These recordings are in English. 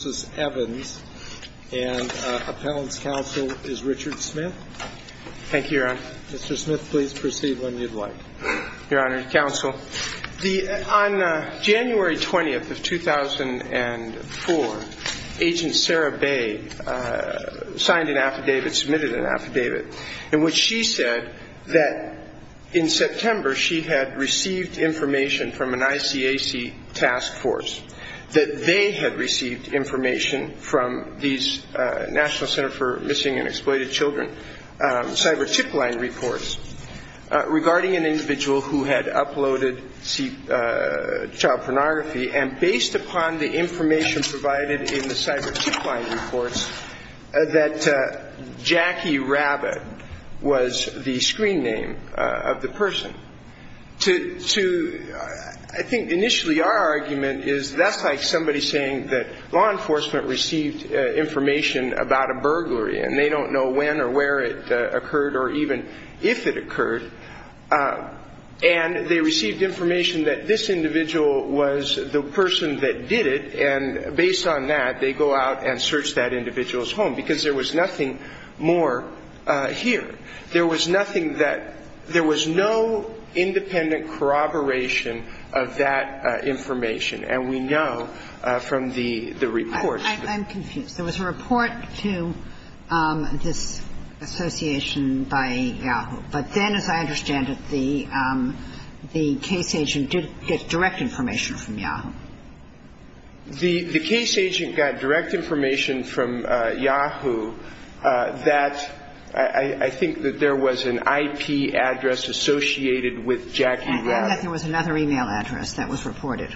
and appellant's counsel is Richard Smith. Thank you, Your Honor. Mr. Smith, please proceed when you'd like. Your Honor, counsel, on January 20th of 2004, Agent Sarah Bay signed an affidavit, submitted an affidavit, in which she said that in September she had received information from an ICAC task force, that they had received information from the ICAC. And in the National Center for Missing and Exploited Children, cyber chip line reports, regarding an individual who had uploaded child pornography, and based upon the information provided in the cyber chip line reports, that Jackie Rabbit was the screen name of the person. I think initially our argument is that's like somebody saying that law enforcement received information about a burglary, and they don't know when or where it occurred, or even if it occurred. And they received information that this individual was the person that did it, and based on that, they go out and search that individual's home, because there was nothing more here. There was nothing that – there was no independent corroboration of that information. And we know that this individual was the one that did it. There was no direct information from the report. I'm confused. There was a report to this association by Yahoo. But then, as I understand it, the case agent did get direct information from Yahoo. The case agent got direct information from Yahoo that I think that there was an IP address associated with Jackie Rabbit. And that there was another e-mail address that was reported.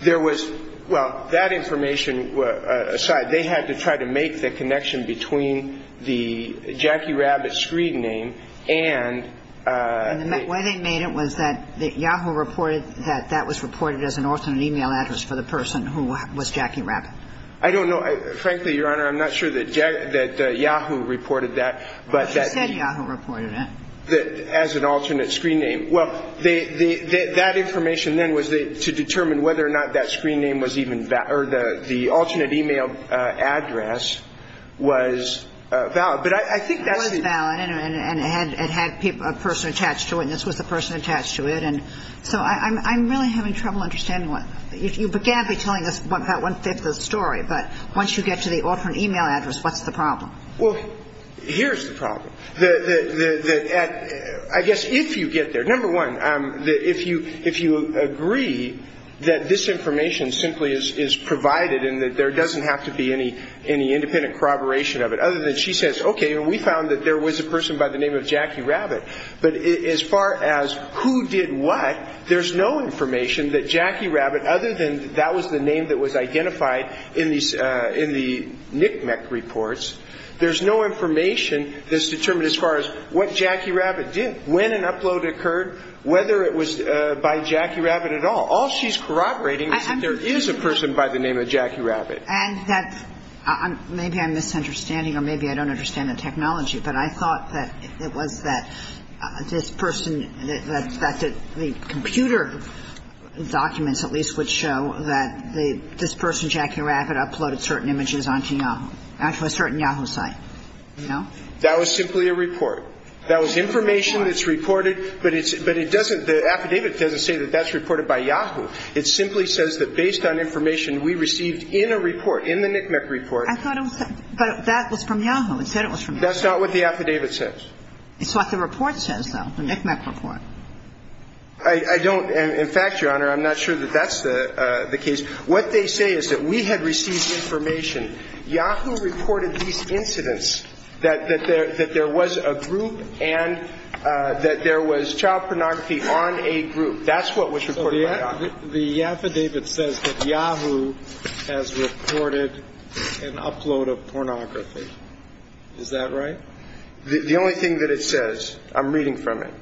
There was – well, that information aside, they had to try to make the connection between the Jackie Rabbit screen name and the – And the way they made it was that Yahoo reported that that was reported as an alternate e-mail address for the person who was Jackie Rabbit. I don't know. Frankly, Your Honor, I'm not sure that Yahoo reported that, but that – as an alternate screen name. Well, that information then was to determine whether or not that screen name was even – or the alternate e-mail address was valid. But I think that's the – It was valid, and it had a person attached to it, and this was the person attached to it. And so I'm really having trouble understanding what – you began by telling us about one-fifth of the story, but once you get to the alternate e-mail address, what's the problem? Well, here's the problem. I guess if you get there – number one, if you agree that this information simply is provided and that there doesn't have to be any independent corroboration of it, other than she says, okay, we found that there was a person by the name of Jackie Rabbit, but as far as who did what, there's no information that Jackie Rabbit, other than that was the name that was identified in the NCMEC reports, there's no information that's determined as far as what Jackie Rabbit did, when an upload occurred, whether it was by Jackie Rabbit at all. All she's corroborating is that there is a person by the name of Jackie Rabbit. And that – maybe I'm misunderstanding, or maybe I don't understand the technology, but I thought that it was that this person – that the computer documents, at least, would show that this person, Jackie Rabbit, uploaded certain images onto the Internet. But the report doesn't say that this person is from Yahoo, a certain Yahoo site. No. That was simply a report. That was information that's reported, but it's – but it doesn't – the affidavit doesn't say that that's reported by Yahoo. It simply says that based on information we received in a report, in the NCMEC report, that's not what the affidavit says. It's what the report says, though, the NCMEC report. I don't – in fact, Your Honor, I'm not sure that that's the case. What they say is that we had received information, Yahoo reported these incidents, that there was a group and that there was child pornography on a group. That's what was reported by Yahoo. So the affidavit says that Yahoo has reported an upload of pornography. Is that right? The only thing that it says – I'm reading from it.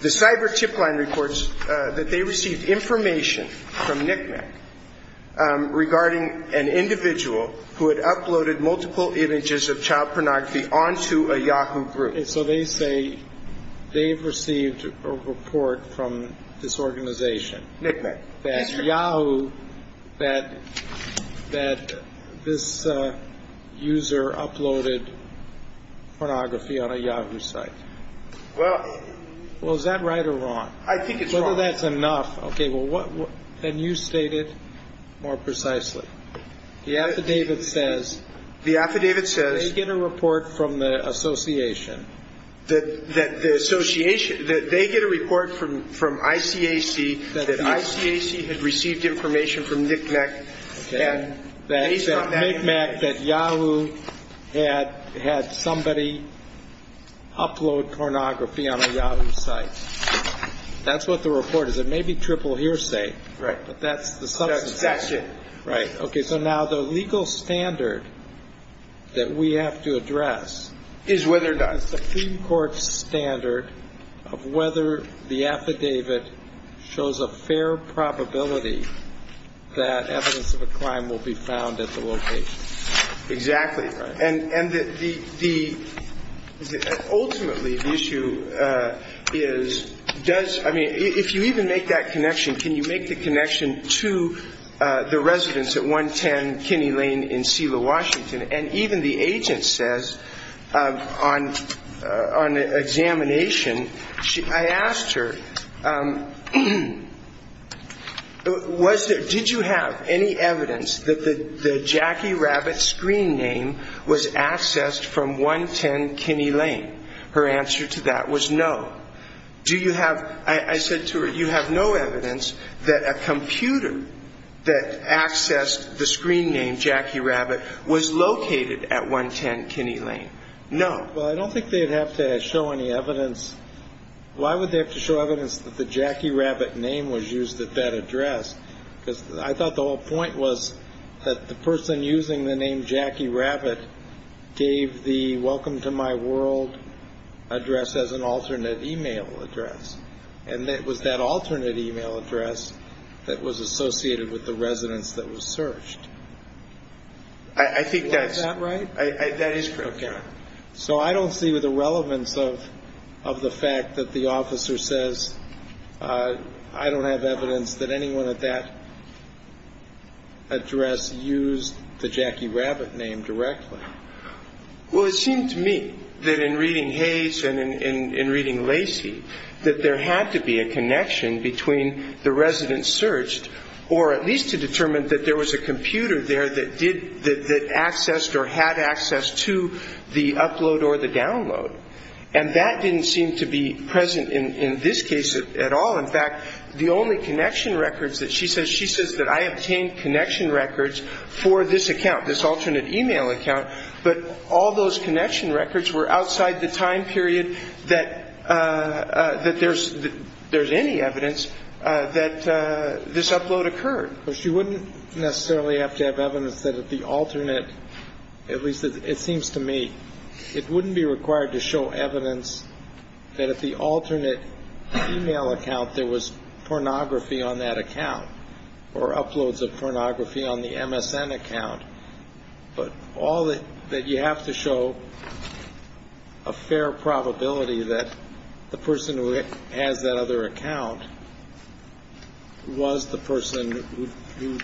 The cyber chip line reports that they received information from NCMEC regarding an individual who had uploaded multiple images of child pornography onto a Yahoo group. So they say they've received a report from this organization. NCMEC. That Yahoo – that this user uploaded pornography on a Yahoo site. Well – Well, is that right or wrong? I think it's wrong. Whether that's enough – okay, well, what – then you state it more precisely. The affidavit says – The affidavit says – That they get a report from the association. That the association – that they get a report from ICAC that ICAC had received information from NCMEC and based on that – That NCMEC – that Yahoo had somebody upload pornography on a Yahoo site. That's what the report is. It may be triple hearsay. Right. But that's the substance of it. That's it. Right. Okay, so now the legal standard that we have to address – Is whether – Is the Supreme Court's standard of whether the affidavit shows a fair probability that evidence of a crime will be found at the location. Exactly. Right. And the – ultimately, the issue is, does – I mean, if you even make that connection, can you make the connection to the residents at 110 Kinney Lane in Selah, Washington? And even the agent says, on examination, I asked her, was there – did you have any evidence that the Jackie Rabbit screen name was accessed from 110 Kinney Lane? Her answer to that was no. Do you have – I said to her, you have no evidence that a computer that accessed the screen name Jackie Rabbit was located at 110 Kinney Lane? No. Well, I don't think they'd have to show any evidence – why would they have to show evidence that the Jackie Rabbit name was used at that address? Because I thought the whole point was that the person using the name Jackie Rabbit gave the Welcome to My World address as an alternate e-mail address. And it was that alternate e-mail address that was associated with the residents that were searched. I think that's – Is that right? That is correct. So I don't see the relevance of the fact that the officer says, I don't have evidence that anyone at that address used the Jackie Rabbit name directly. Well, it seemed to me that in reading Hayes and in reading Lacey, that there had to be a connection between the residents searched, or at least to determine that there was a computer there that did – that accessed or had access to the upload or the download. And that didn't seem to be present in this case at all. In fact, the only connection records that she says – she says that I obtained connection records for this account, this alternate e-mail account, but all those connection records were outside the time period that there's any evidence that this upload occurred. Well, she wouldn't necessarily have to have evidence that the alternate – at least it seems to me – it wouldn't be required to show evidence that at the alternate e-mail account there was pornography on that account or uploads of pornography on the MSN account, but all that you have to show a fair probability that the person who has that other account was the person who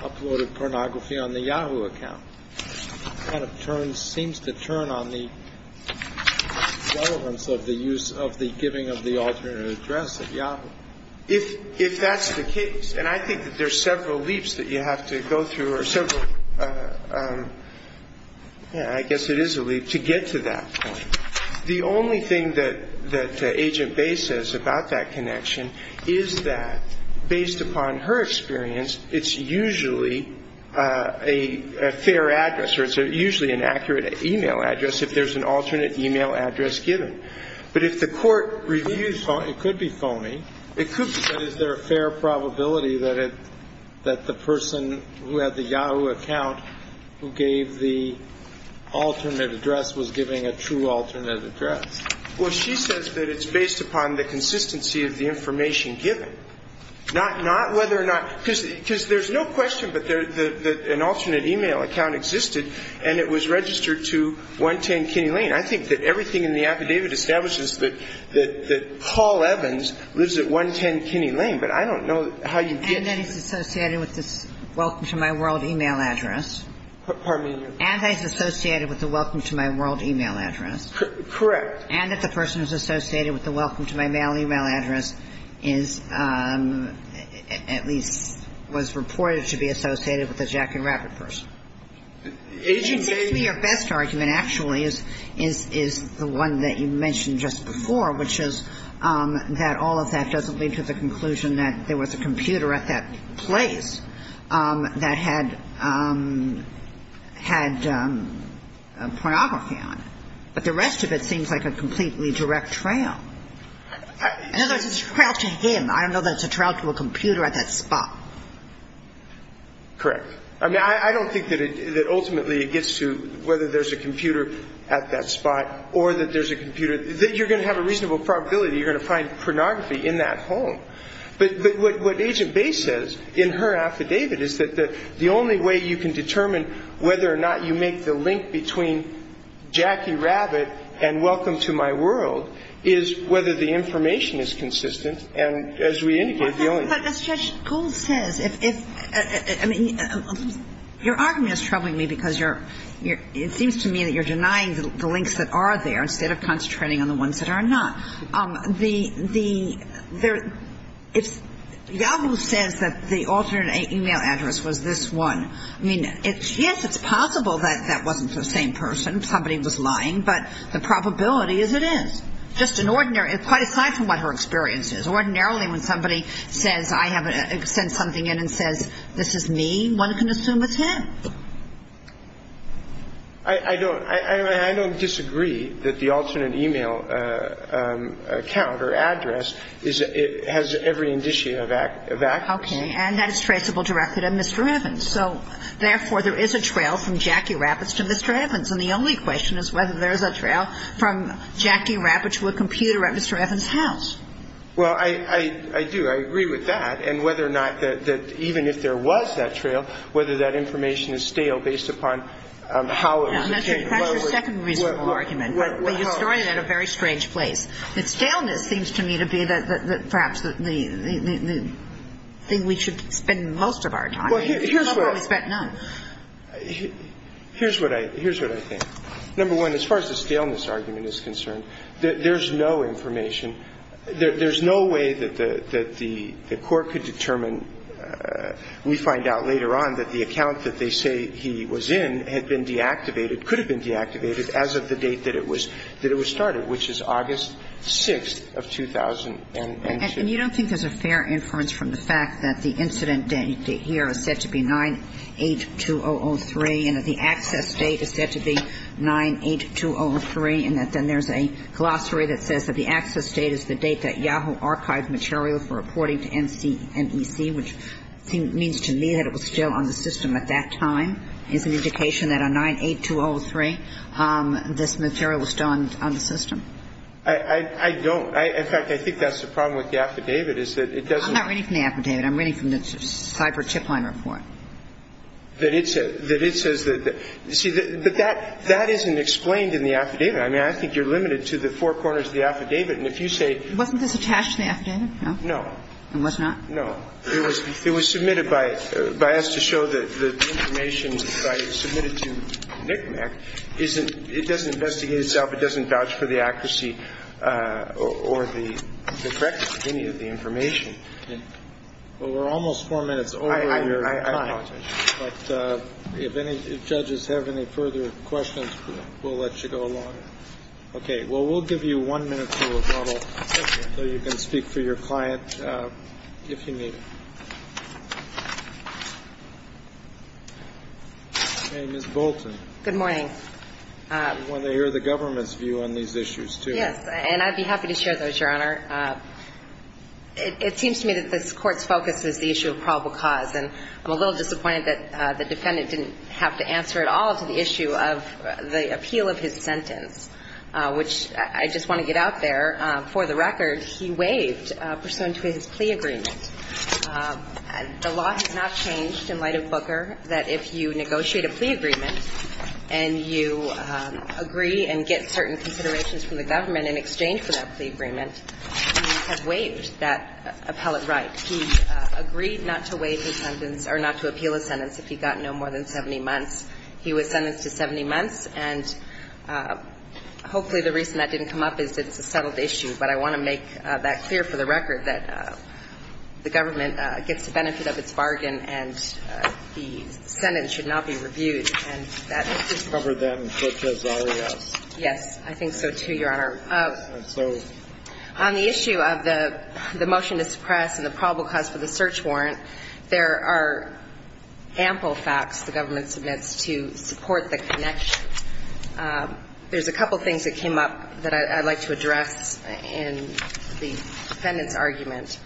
uploaded pornography on the Yahoo account. It kind of turns – seems to turn on the relevance of the use of the giving of the alternate address at Yahoo. If that's the case – and I think that there's several leaps that you have to go through or several – I guess it is a leap to get to that point. The only thing that Agent Bay says about that connection is that based upon her experience, it's usually a fair address or it's usually an accurate e-mail address if there's an alternate e-mail address given. But if the court reviews – it could be phony. It could be. But is there a fair probability that it – that the person who had the Yahoo account who gave the alternate address was giving a true alternate address? Well, she says that it's based upon the consistency of the information given. Not whether or not – because there's no question that an alternate e-mail account existed and it was registered to 110 Kinney Lane. I think that everything in the affidavit establishes that Paul Evans lives at 110 Kinney Lane. But I don't know how you get to that. And that he's associated with this welcome to my world e-mail address. Pardon me? And that he's associated with the welcome to my world e-mail address. Correct. And that the person who's associated with the welcome to my mail e-mail address is – at least was reported to be associated with the Jack and Rabbit person. It seems to me your best argument actually is the one that you mentioned just before, which is that all of that doesn't lead to the conclusion that there was a computer at that place that had – had pornography on it. But the rest of it seems like a completely direct trail. In other words, it's a trail to him. I don't know that it's a trail to a computer at that spot. Correct. I mean, I don't think that ultimately it gets to whether there's a computer at that spot or that there's a computer – that you're going to have a reasonable probability you're going to find pornography in that home. But what Agent Bay says in her affidavit is that the only way you can determine whether or not you make the link between Jackie Rabbit and welcome to my world is whether the information is consistent. And as we indicated, the only – But Judge Gold says if – I mean, your argument is troubling me because you're – it seems to me that you're denying the links that are there instead of concentrating on the ones that are not. The – it's – Yahoo says that the alternate email address was this one. I mean, yes, it's possible that that wasn't the same person. Somebody was lying. But the probability is it is. Just an ordinary – quite aside from what her experience is. Ordinarily when somebody says – sends something in and says, this is me, one can assume it's him. I don't – I don't disagree that the alternate email account or address is – has every indicia of accuracy. Okay. And that is traceable directly to Mr. Evans. So, therefore, there is a trail from Jackie Rabbit to Mr. Evans. And the only question is whether there is a trail from Jackie Rabbit to a computer at Mr. Evans' house. Well, I do. I agree with that. And whether or not – even if there was that trail, whether that information is stale based upon how it was obtained. That's your second reasonable argument. But you're throwing it at a very strange place. The staleness seems to me to be perhaps the thing we should spend most of our time on. Here's what I – here's what I think. Number one, as far as the staleness argument is concerned, there's no information – there's no way that the – that the court could determine, we find out later on, that the account that they say he was in had been deactivated, could have been deactivated as of the date that it was – that it was started, which is August 6th of 2000. And you don't think there's a fair inference from the fact that the incident date here is said to be 982003 and that the access date is said to be 982003 and that then there's a glossary that says that the access date is the date that Yahoo archived material for reporting to NC – NEC, which seems – means to me that it was still on the system at that time. It's an indication that on 98203, this material was still on the system. I – I don't. In fact, I think that's the problem with the affidavit, is that it doesn't – I'm not reading from the affidavit. I'm reading from the cyber chip line report. That it says – that it says that – see, but that – that isn't explained in the affidavit. I mean, I think you're limited to the four corners of the affidavit. And if you say – Wasn't this attached to the affidavit? No. No. It was not? No. It was – it was submitted by – by us to show that the information submitted to NCMEC isn't – it doesn't investigate itself. It doesn't vouch for the accuracy or the correctness of any of the information. Okay. Well, we're almost four minutes over your time. I – I apologize. But if any – if judges have any further questions, we'll let you go along. Okay. Well, we'll give you one minute for rebuttal, so you can speak for your client if you need it. Ms. Bolton. Good morning. I want to hear the government's view on these issues, too. Yes. And I'd be happy to share those, Your Honor. It seems to me that this Court's focus is the issue of probable cause. And I'm a little disappointed that the defendant didn't have to answer at all to the issue of the appeal of his sentence, which I just want to get out there. For the record, he waived pursuant to his plea agreement. The law has not changed in light of Booker that if you negotiate a plea agreement and you agree and get certain considerations from the government in exchange for that plea agreement, you have waived that appellate right. He agreed not to waive his sentence or not to appeal his sentence if he got no more than 70 months. He was sentenced to 70 months, and hopefully the reason that didn't come up is that it's a settled issue. But I want to make that clear for the record, that the government gets the benefit of its bargain and the sentence should not be reviewed. And that's just the way it is. It's covered then, such as R.E.S. Yes. I think so, too, Your Honor. On the issue of the motion to suppress and the probable cause for the search warrant, there are ample facts the government submits to support the connection. There's a couple things that came up that I'd like to address in the defendant's argument.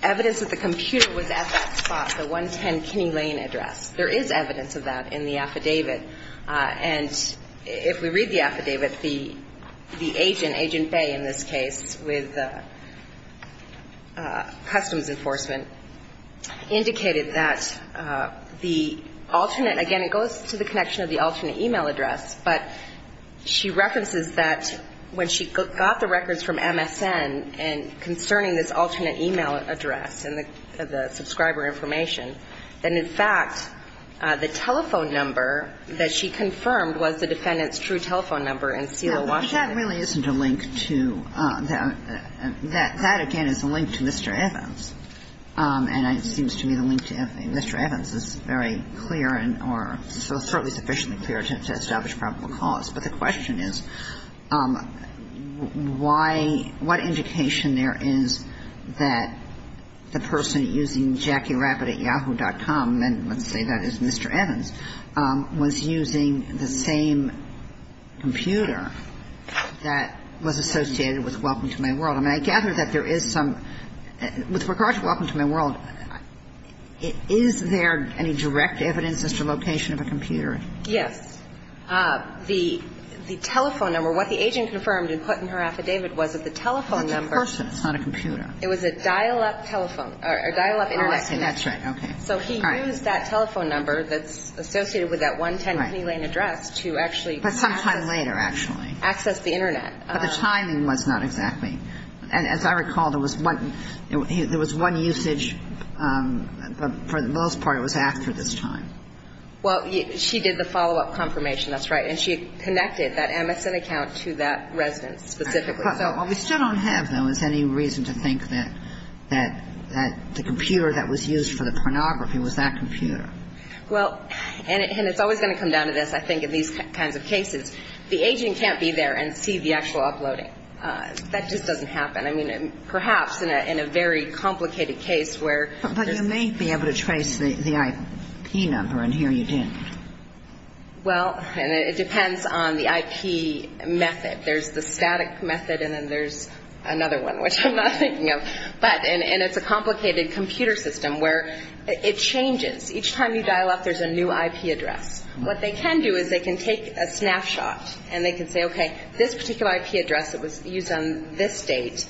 Evidence that the computer was at that spot, the 110 Kinney Lane address. There is evidence of that in the affidavit. And if we read the affidavit, the agent, Agent Bay in this case, with Customs Enforcement, indicated that the alternate, again, it goes to the connection of the alternate e-mail address, but she references that when she got the records from MSN concerning this alternate e-mail address and the subscriber information, then, in fact, the telephone number that she confirmed was the defendant's true telephone number in C.L. Washington. But that really isn't a link to that. That, again, is a link to Mr. Evans. And it seems to me the link to Mr. Evans is very clear or certainly sufficiently clear to establish probable cause. But the question is, why, what indication there is that the person using Jackie Rapid at Yahoo.com, and let's say that is Mr. Evans, was using the same computer that was associated with Welcome to My World? I mean, I gather that there is some – with regard to Welcome to My World, is there any direct evidence as to location of a computer? Yes. The telephone number, what the agent confirmed and put in her affidavit was that the telephone number. Of the person. It's not a computer. It was a dial-up telephone or a dial-up internet. Okay. That's right. Okay. So he used that telephone number that's associated with that 110 Penny Lane address to actually access. But sometime later, actually. Access the internet. But the timing was not exactly. And as I recall, there was one usage, but for the most part, it was after this time. Well, she did the follow-up confirmation. That's right. And she connected that MSN account to that residence specifically. Well, we still don't have, though, any reason to think that the computer that was used for the pornography was that computer. Well, and it's always going to come down to this, I think, in these kinds of cases. The agent can't be there and see the actual uploading. That just doesn't happen. I mean, perhaps in a very complicated case where there's. But you may be able to trace the IP number, and here you didn't. Well, it depends on the IP method. There's the static method, and then there's another one, which I'm not thinking of. But, and it's a complicated computer system where it changes. Each time you dial up, there's a new IP address. What they can do is they can take a snapshot, and they can say, okay, this particular IP address that was used on this date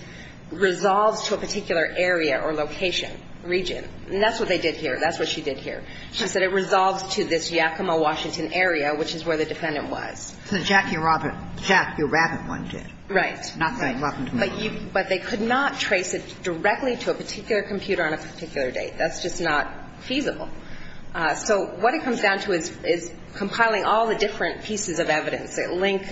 resolves to a particular area or location, region. And that's what they did here. That's what she did here. She said it resolves to this Yakima, Washington area, which is where the defendant was. The Jackie Rabbit one did. Right. But they could not trace it directly to a particular computer on a particular date. That's just not feasible. So what it comes down to is compiling all the different pieces of evidence that link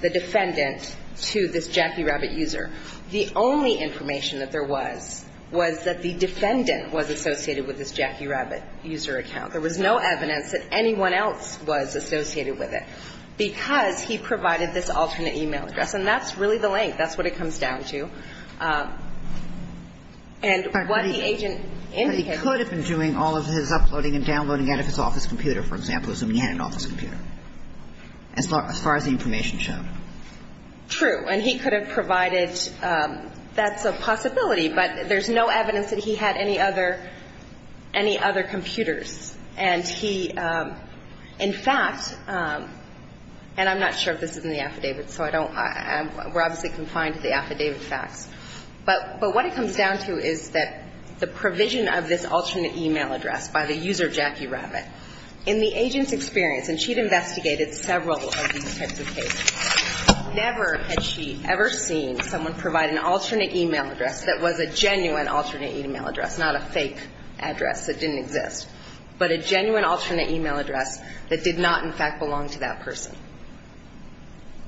the defendant to this Jackie Rabbit user. The only information that there was was that the defendant was associated with this Jackie Rabbit user account. There was no evidence that anyone else was associated with it. Because he provided this alternate e-mail address. And that's really the link. That's what it comes down to. And what the agent indicated. But he could have been doing all of his uploading and downloading out of his office computer, for example, assuming he had an office computer, as far as the information showed. True. And he could have provided. That's a possibility. But there's no evidence that he had any other, any other computers. And he, in fact, and I'm not sure if this is in the affidavit, so I don't, we're obviously confined to the affidavit facts. But what it comes down to is that the provision of this alternate e-mail address by the user Jackie Rabbit, in the agent's experience, and she'd investigated several of these types of cases, never had she ever seen someone provide an alternate e-mail address that was a genuine alternate e-mail address, not a fake address that didn't exist, but a genuine alternate e-mail address that did not, in fact, belong to that person.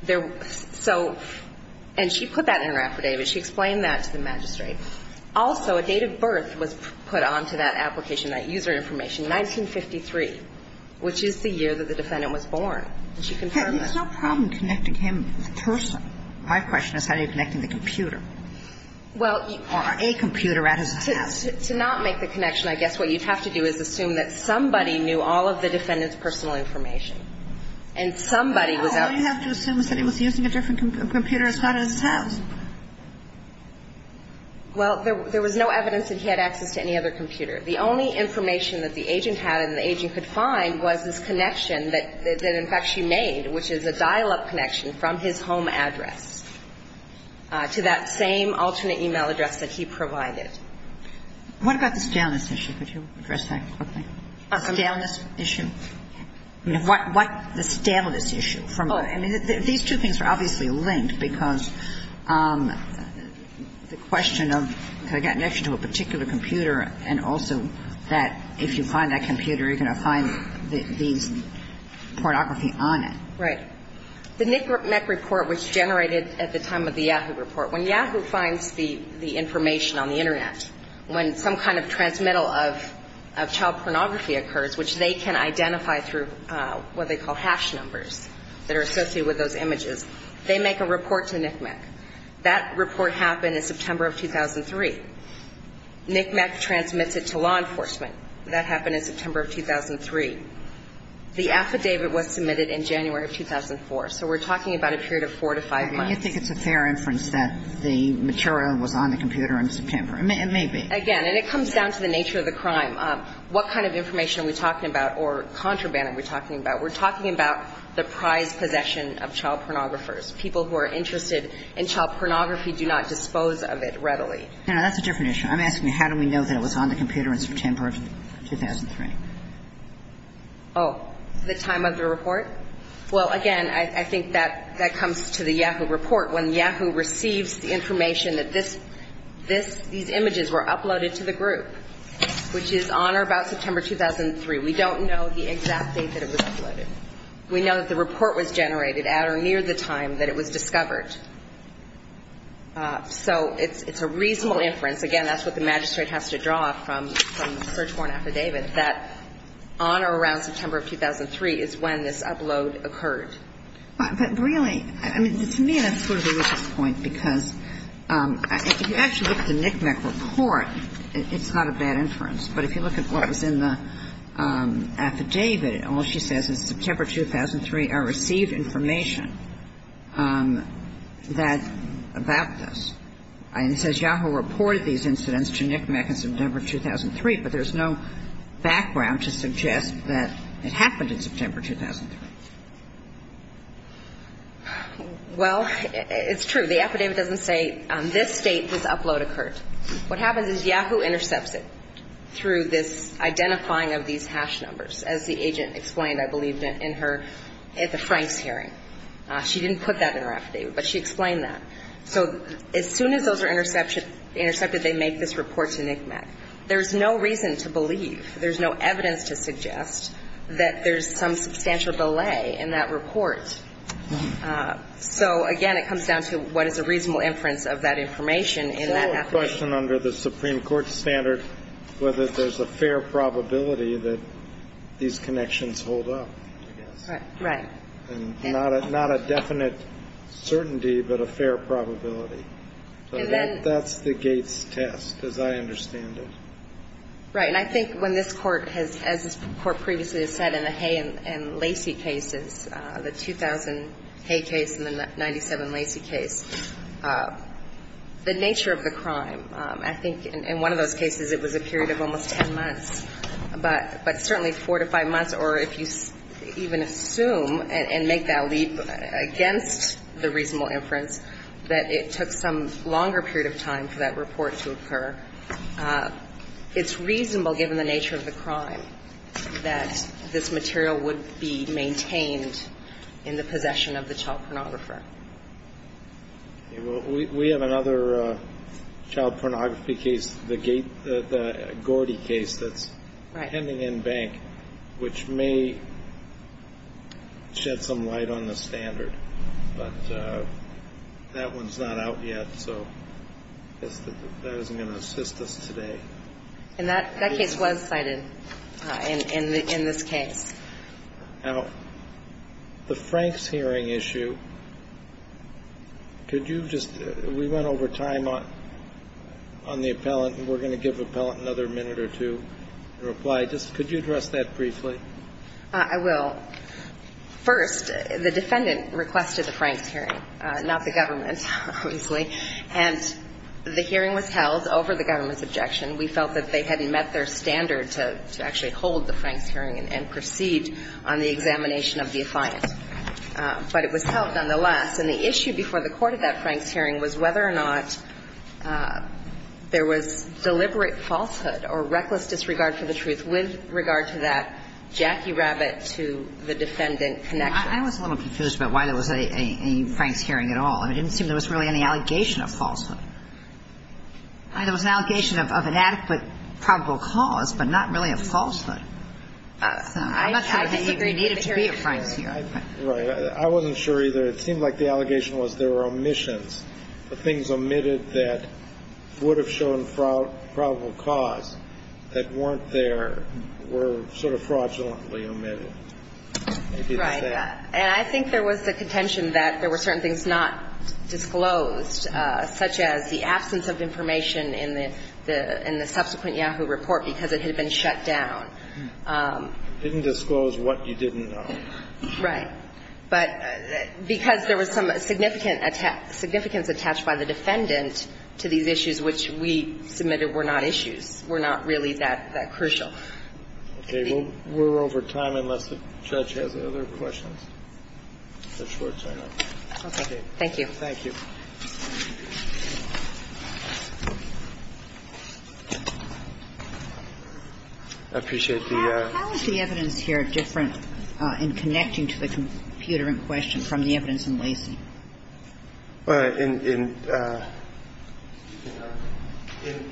There, so, and she put that in her affidavit. She explained that to the magistrate. Also, a date of birth was put onto that application, that user information, 1953, which is the year that the defendant was born. And she confirmed that. There's no problem connecting him, the person. My question is, how do you connect him to the computer? Well, you. Or a computer at his desk. To not make the connection, I guess what you'd have to do is assume that somebody knew all of the defendant's personal information. And somebody was out. All you have to assume is that he was using a different computer as far as his house. Well, there was no evidence that he had access to any other computer. The only information that the agent had and the agent could find was this connection that, in fact, she made, which is a dial-up connection from his home address to that same alternate e-mail address that he provided. What about the staleness issue? Could you address that quickly? The staleness issue? I mean, what the staleness issue? I mean, these two things are obviously linked, because the question of could I get connection to a particular computer and also that if you find that computer, you're going to find these pornography on it. Right. The NICMEC report was generated at the time of the Yahoo report. When Yahoo finds the information on the Internet, when some kind of transmittal of child pornography occurs, which they can identify through what they call hash numbers that are associated with those images, they make a report to NICMEC. That report happened in September of 2003. NICMEC transmits it to law enforcement. That happened in September of 2003. The affidavit was submitted in January of 2004. So we're talking about a period of four to five months. And you think it's a fair inference that the material was on the computer in September. It may be. Again, and it comes down to the nature of the crime. What kind of information are we talking about or contraband are we talking about? We're talking about the prized possession of child pornographers. People who are interested in child pornography do not dispose of it readily. No, that's a different issue. I'm asking you, how do we know that it was on the computer in September of 2003? Oh, the time of the report? Well, again, I think that comes to the Yahoo report. When Yahoo receives the information that this, these images were uploaded to the group, which is on or about September 2003, we don't know the exact date that it was uploaded. We know that the report was generated at or near the time that it was discovered. So it's a reasonable inference. Again, that's what the magistrate has to draw from the search warrant affidavit, that on or around September of 2003 is when this upload occurred. But really, I mean, to me that's sort of a racist point because if you actually look at the NCMEC report, it's not a bad inference. But if you look at what was in the affidavit, all she says is September 2003, I received information that, about this. And it says Yahoo reported these incidents to NCMEC in September 2003, but there's no background to suggest that it happened in September 2003. Well, it's true. The affidavit doesn't say this date this upload occurred. What happens is Yahoo intercepts it through this identifying of these hash numbers, as the agent explained, I believe, in her, at the Franks hearing. She didn't put that in her affidavit, but she explained that. So as soon as those are intercepted, they make this report to NCMEC. There's no reason to believe, there's no evidence to suggest that there's some substantial belay in that report. So, again, it comes down to what is a reasonable inference of that information in that affidavit. So the question under the Supreme Court standard, whether there's a fair probability that these connections hold up, I guess. Right. And not a definite certainty, but a fair probability. So that's the Gates test, as I understand it. Right. And I think when this Court has, as this Court previously has said in the Hay and Lacy cases, the 2000 Hay case and the 97 Lacy case, the nature of the crime, I think in one of those cases, it was a period of almost ten months, but certainly four to five months, or if you even assume and make that leap against the reasonable inference, that it took some longer period of time for that report to occur. It's reasonable, given the nature of the crime, that this material would be maintained in the possession of the child pornographer. Okay. Well, we have another child pornography case, the Gordy case that's pending in bank, which may shed some light on the standard. But that one's not out yet, so that isn't going to assist us today. And that case was cited in this case. Now, the Franks hearing issue, could you just we went over time on the appellant and we're going to give the appellant another minute or two to reply. Just could you address that briefly? I will. First, the defendant requested the Franks hearing, not the government, obviously. And the hearing was held over the government's objection. We felt that they hadn't met their standard to actually hold the Franks hearing and proceed on the examination of the affiant. But it was held nonetheless. And the issue before the court at that Franks hearing was whether or not there was deliberate falsehood or reckless disregard for the truth with regard to that Jackie Rabbit to the defendant connection. I was a little confused about why there was a Franks hearing at all. It didn't seem there was really any allegation of falsehood. There was an allegation of an adequate probable cause, but not really a falsehood. I'm not sure what the behavior needed to be at Franks hearing. Right. I wasn't sure either. It seemed like the allegation was there were omissions. The things omitted that would have shown probable cause that weren't there were sort of fraudulently omitted. Right. And I think there was the contention that there were certain things not disclosed, such as the absence of information in the subsequent Yahoo report because it had been shut down. Didn't disclose what you didn't know. Right. But because there was some significance attached by the defendant to these issues which we submitted were not issues, were not really that crucial. Okay. We're over time unless the judge has other questions. Thank you. Thank you. I appreciate the ---- How is the evidence here different in connecting to the computer in question from the evidence in Lacey?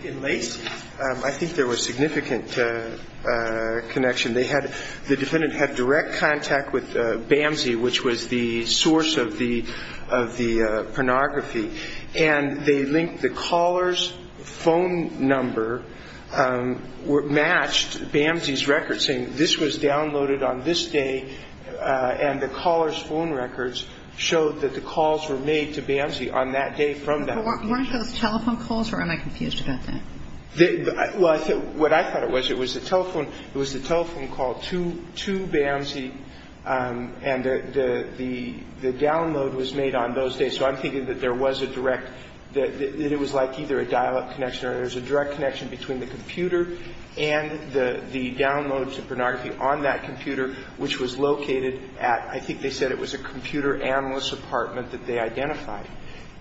In Lacey, I think there was significant connection. They had the defendant had direct contact with BAMSI, which was the source of the pornography, and they linked the caller's phone number matched BAMSI's record saying this was downloaded on this day and the caller's phone records showed that the calls were made to BAMSI on that day from that day. Weren't those telephone calls or am I confused about that? Well, what I thought it was, it was the telephone call to BAMSI and the download was made on those days. So I'm thinking that there was a direct ---- that it was like either a dial-up connection or there was a direct connection between the computer and the download to pornography on that computer, which was located at, I think they said it was a computer analyst's apartment that they identified.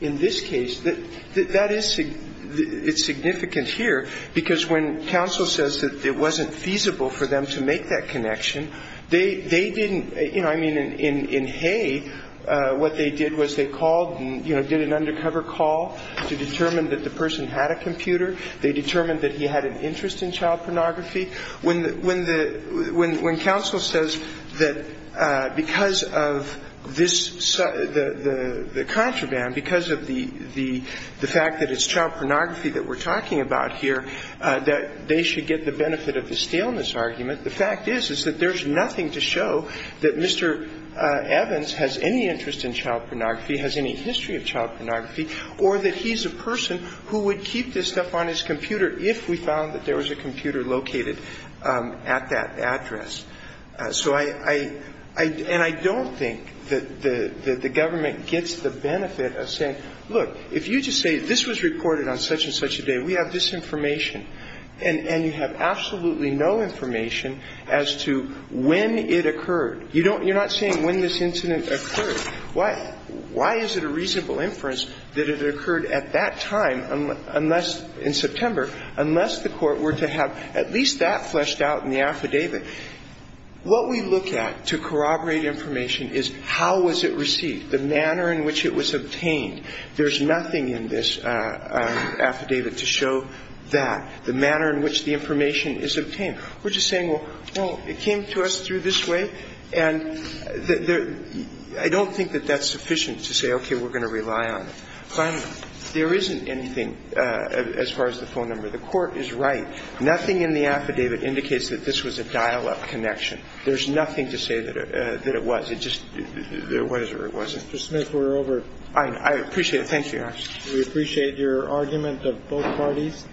In this case, that is significant here because when counsel says that it wasn't feasible for them to make that connection, they didn't, you know, I mean, in Hay, what they did was they called and, you know, did an undercover call to determine that the person had a computer. They determined that he had an interest in child pornography. When counsel says that because of this, the contraband, because of the fact that it's child pornography that we're talking about here, that they should get the benefit of the staleness argument, the fact is, is that there's nothing to show that Mr. Evans has any interest in child pornography, has any history of child pornography, or that he's a person who would keep this stuff on his computer if we found that there was a computer located at that address. So I don't think that the government gets the benefit of saying, look, if you just say this was reported on such and such a day, we have this information, and you have absolutely no information as to when it occurred. You're not saying when this incident occurred. Why is it a reasonable inference that it occurred at that time in September unless the Court were to have at least that fleshed out in the affidavit? What we look at to corroborate information is how was it received, the manner in which it was obtained. There's nothing in this affidavit to show that, the manner in which the information is obtained. We're just saying, well, it came to us through this way, and I don't think that that's sufficient to say, okay, we're going to rely on it. Finally, there isn't anything as far as the phone number. The Court is right. Nothing in the affidavit indicates that this was a dial-up connection. There's nothing to say that it was. It just was or it wasn't. Mr. Smith, we're over. I appreciate it. Thank you. We appreciate your argument of both parties,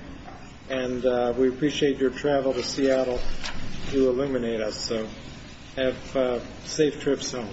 and we appreciate your travel to Seattle to illuminate us. So have safe trips home.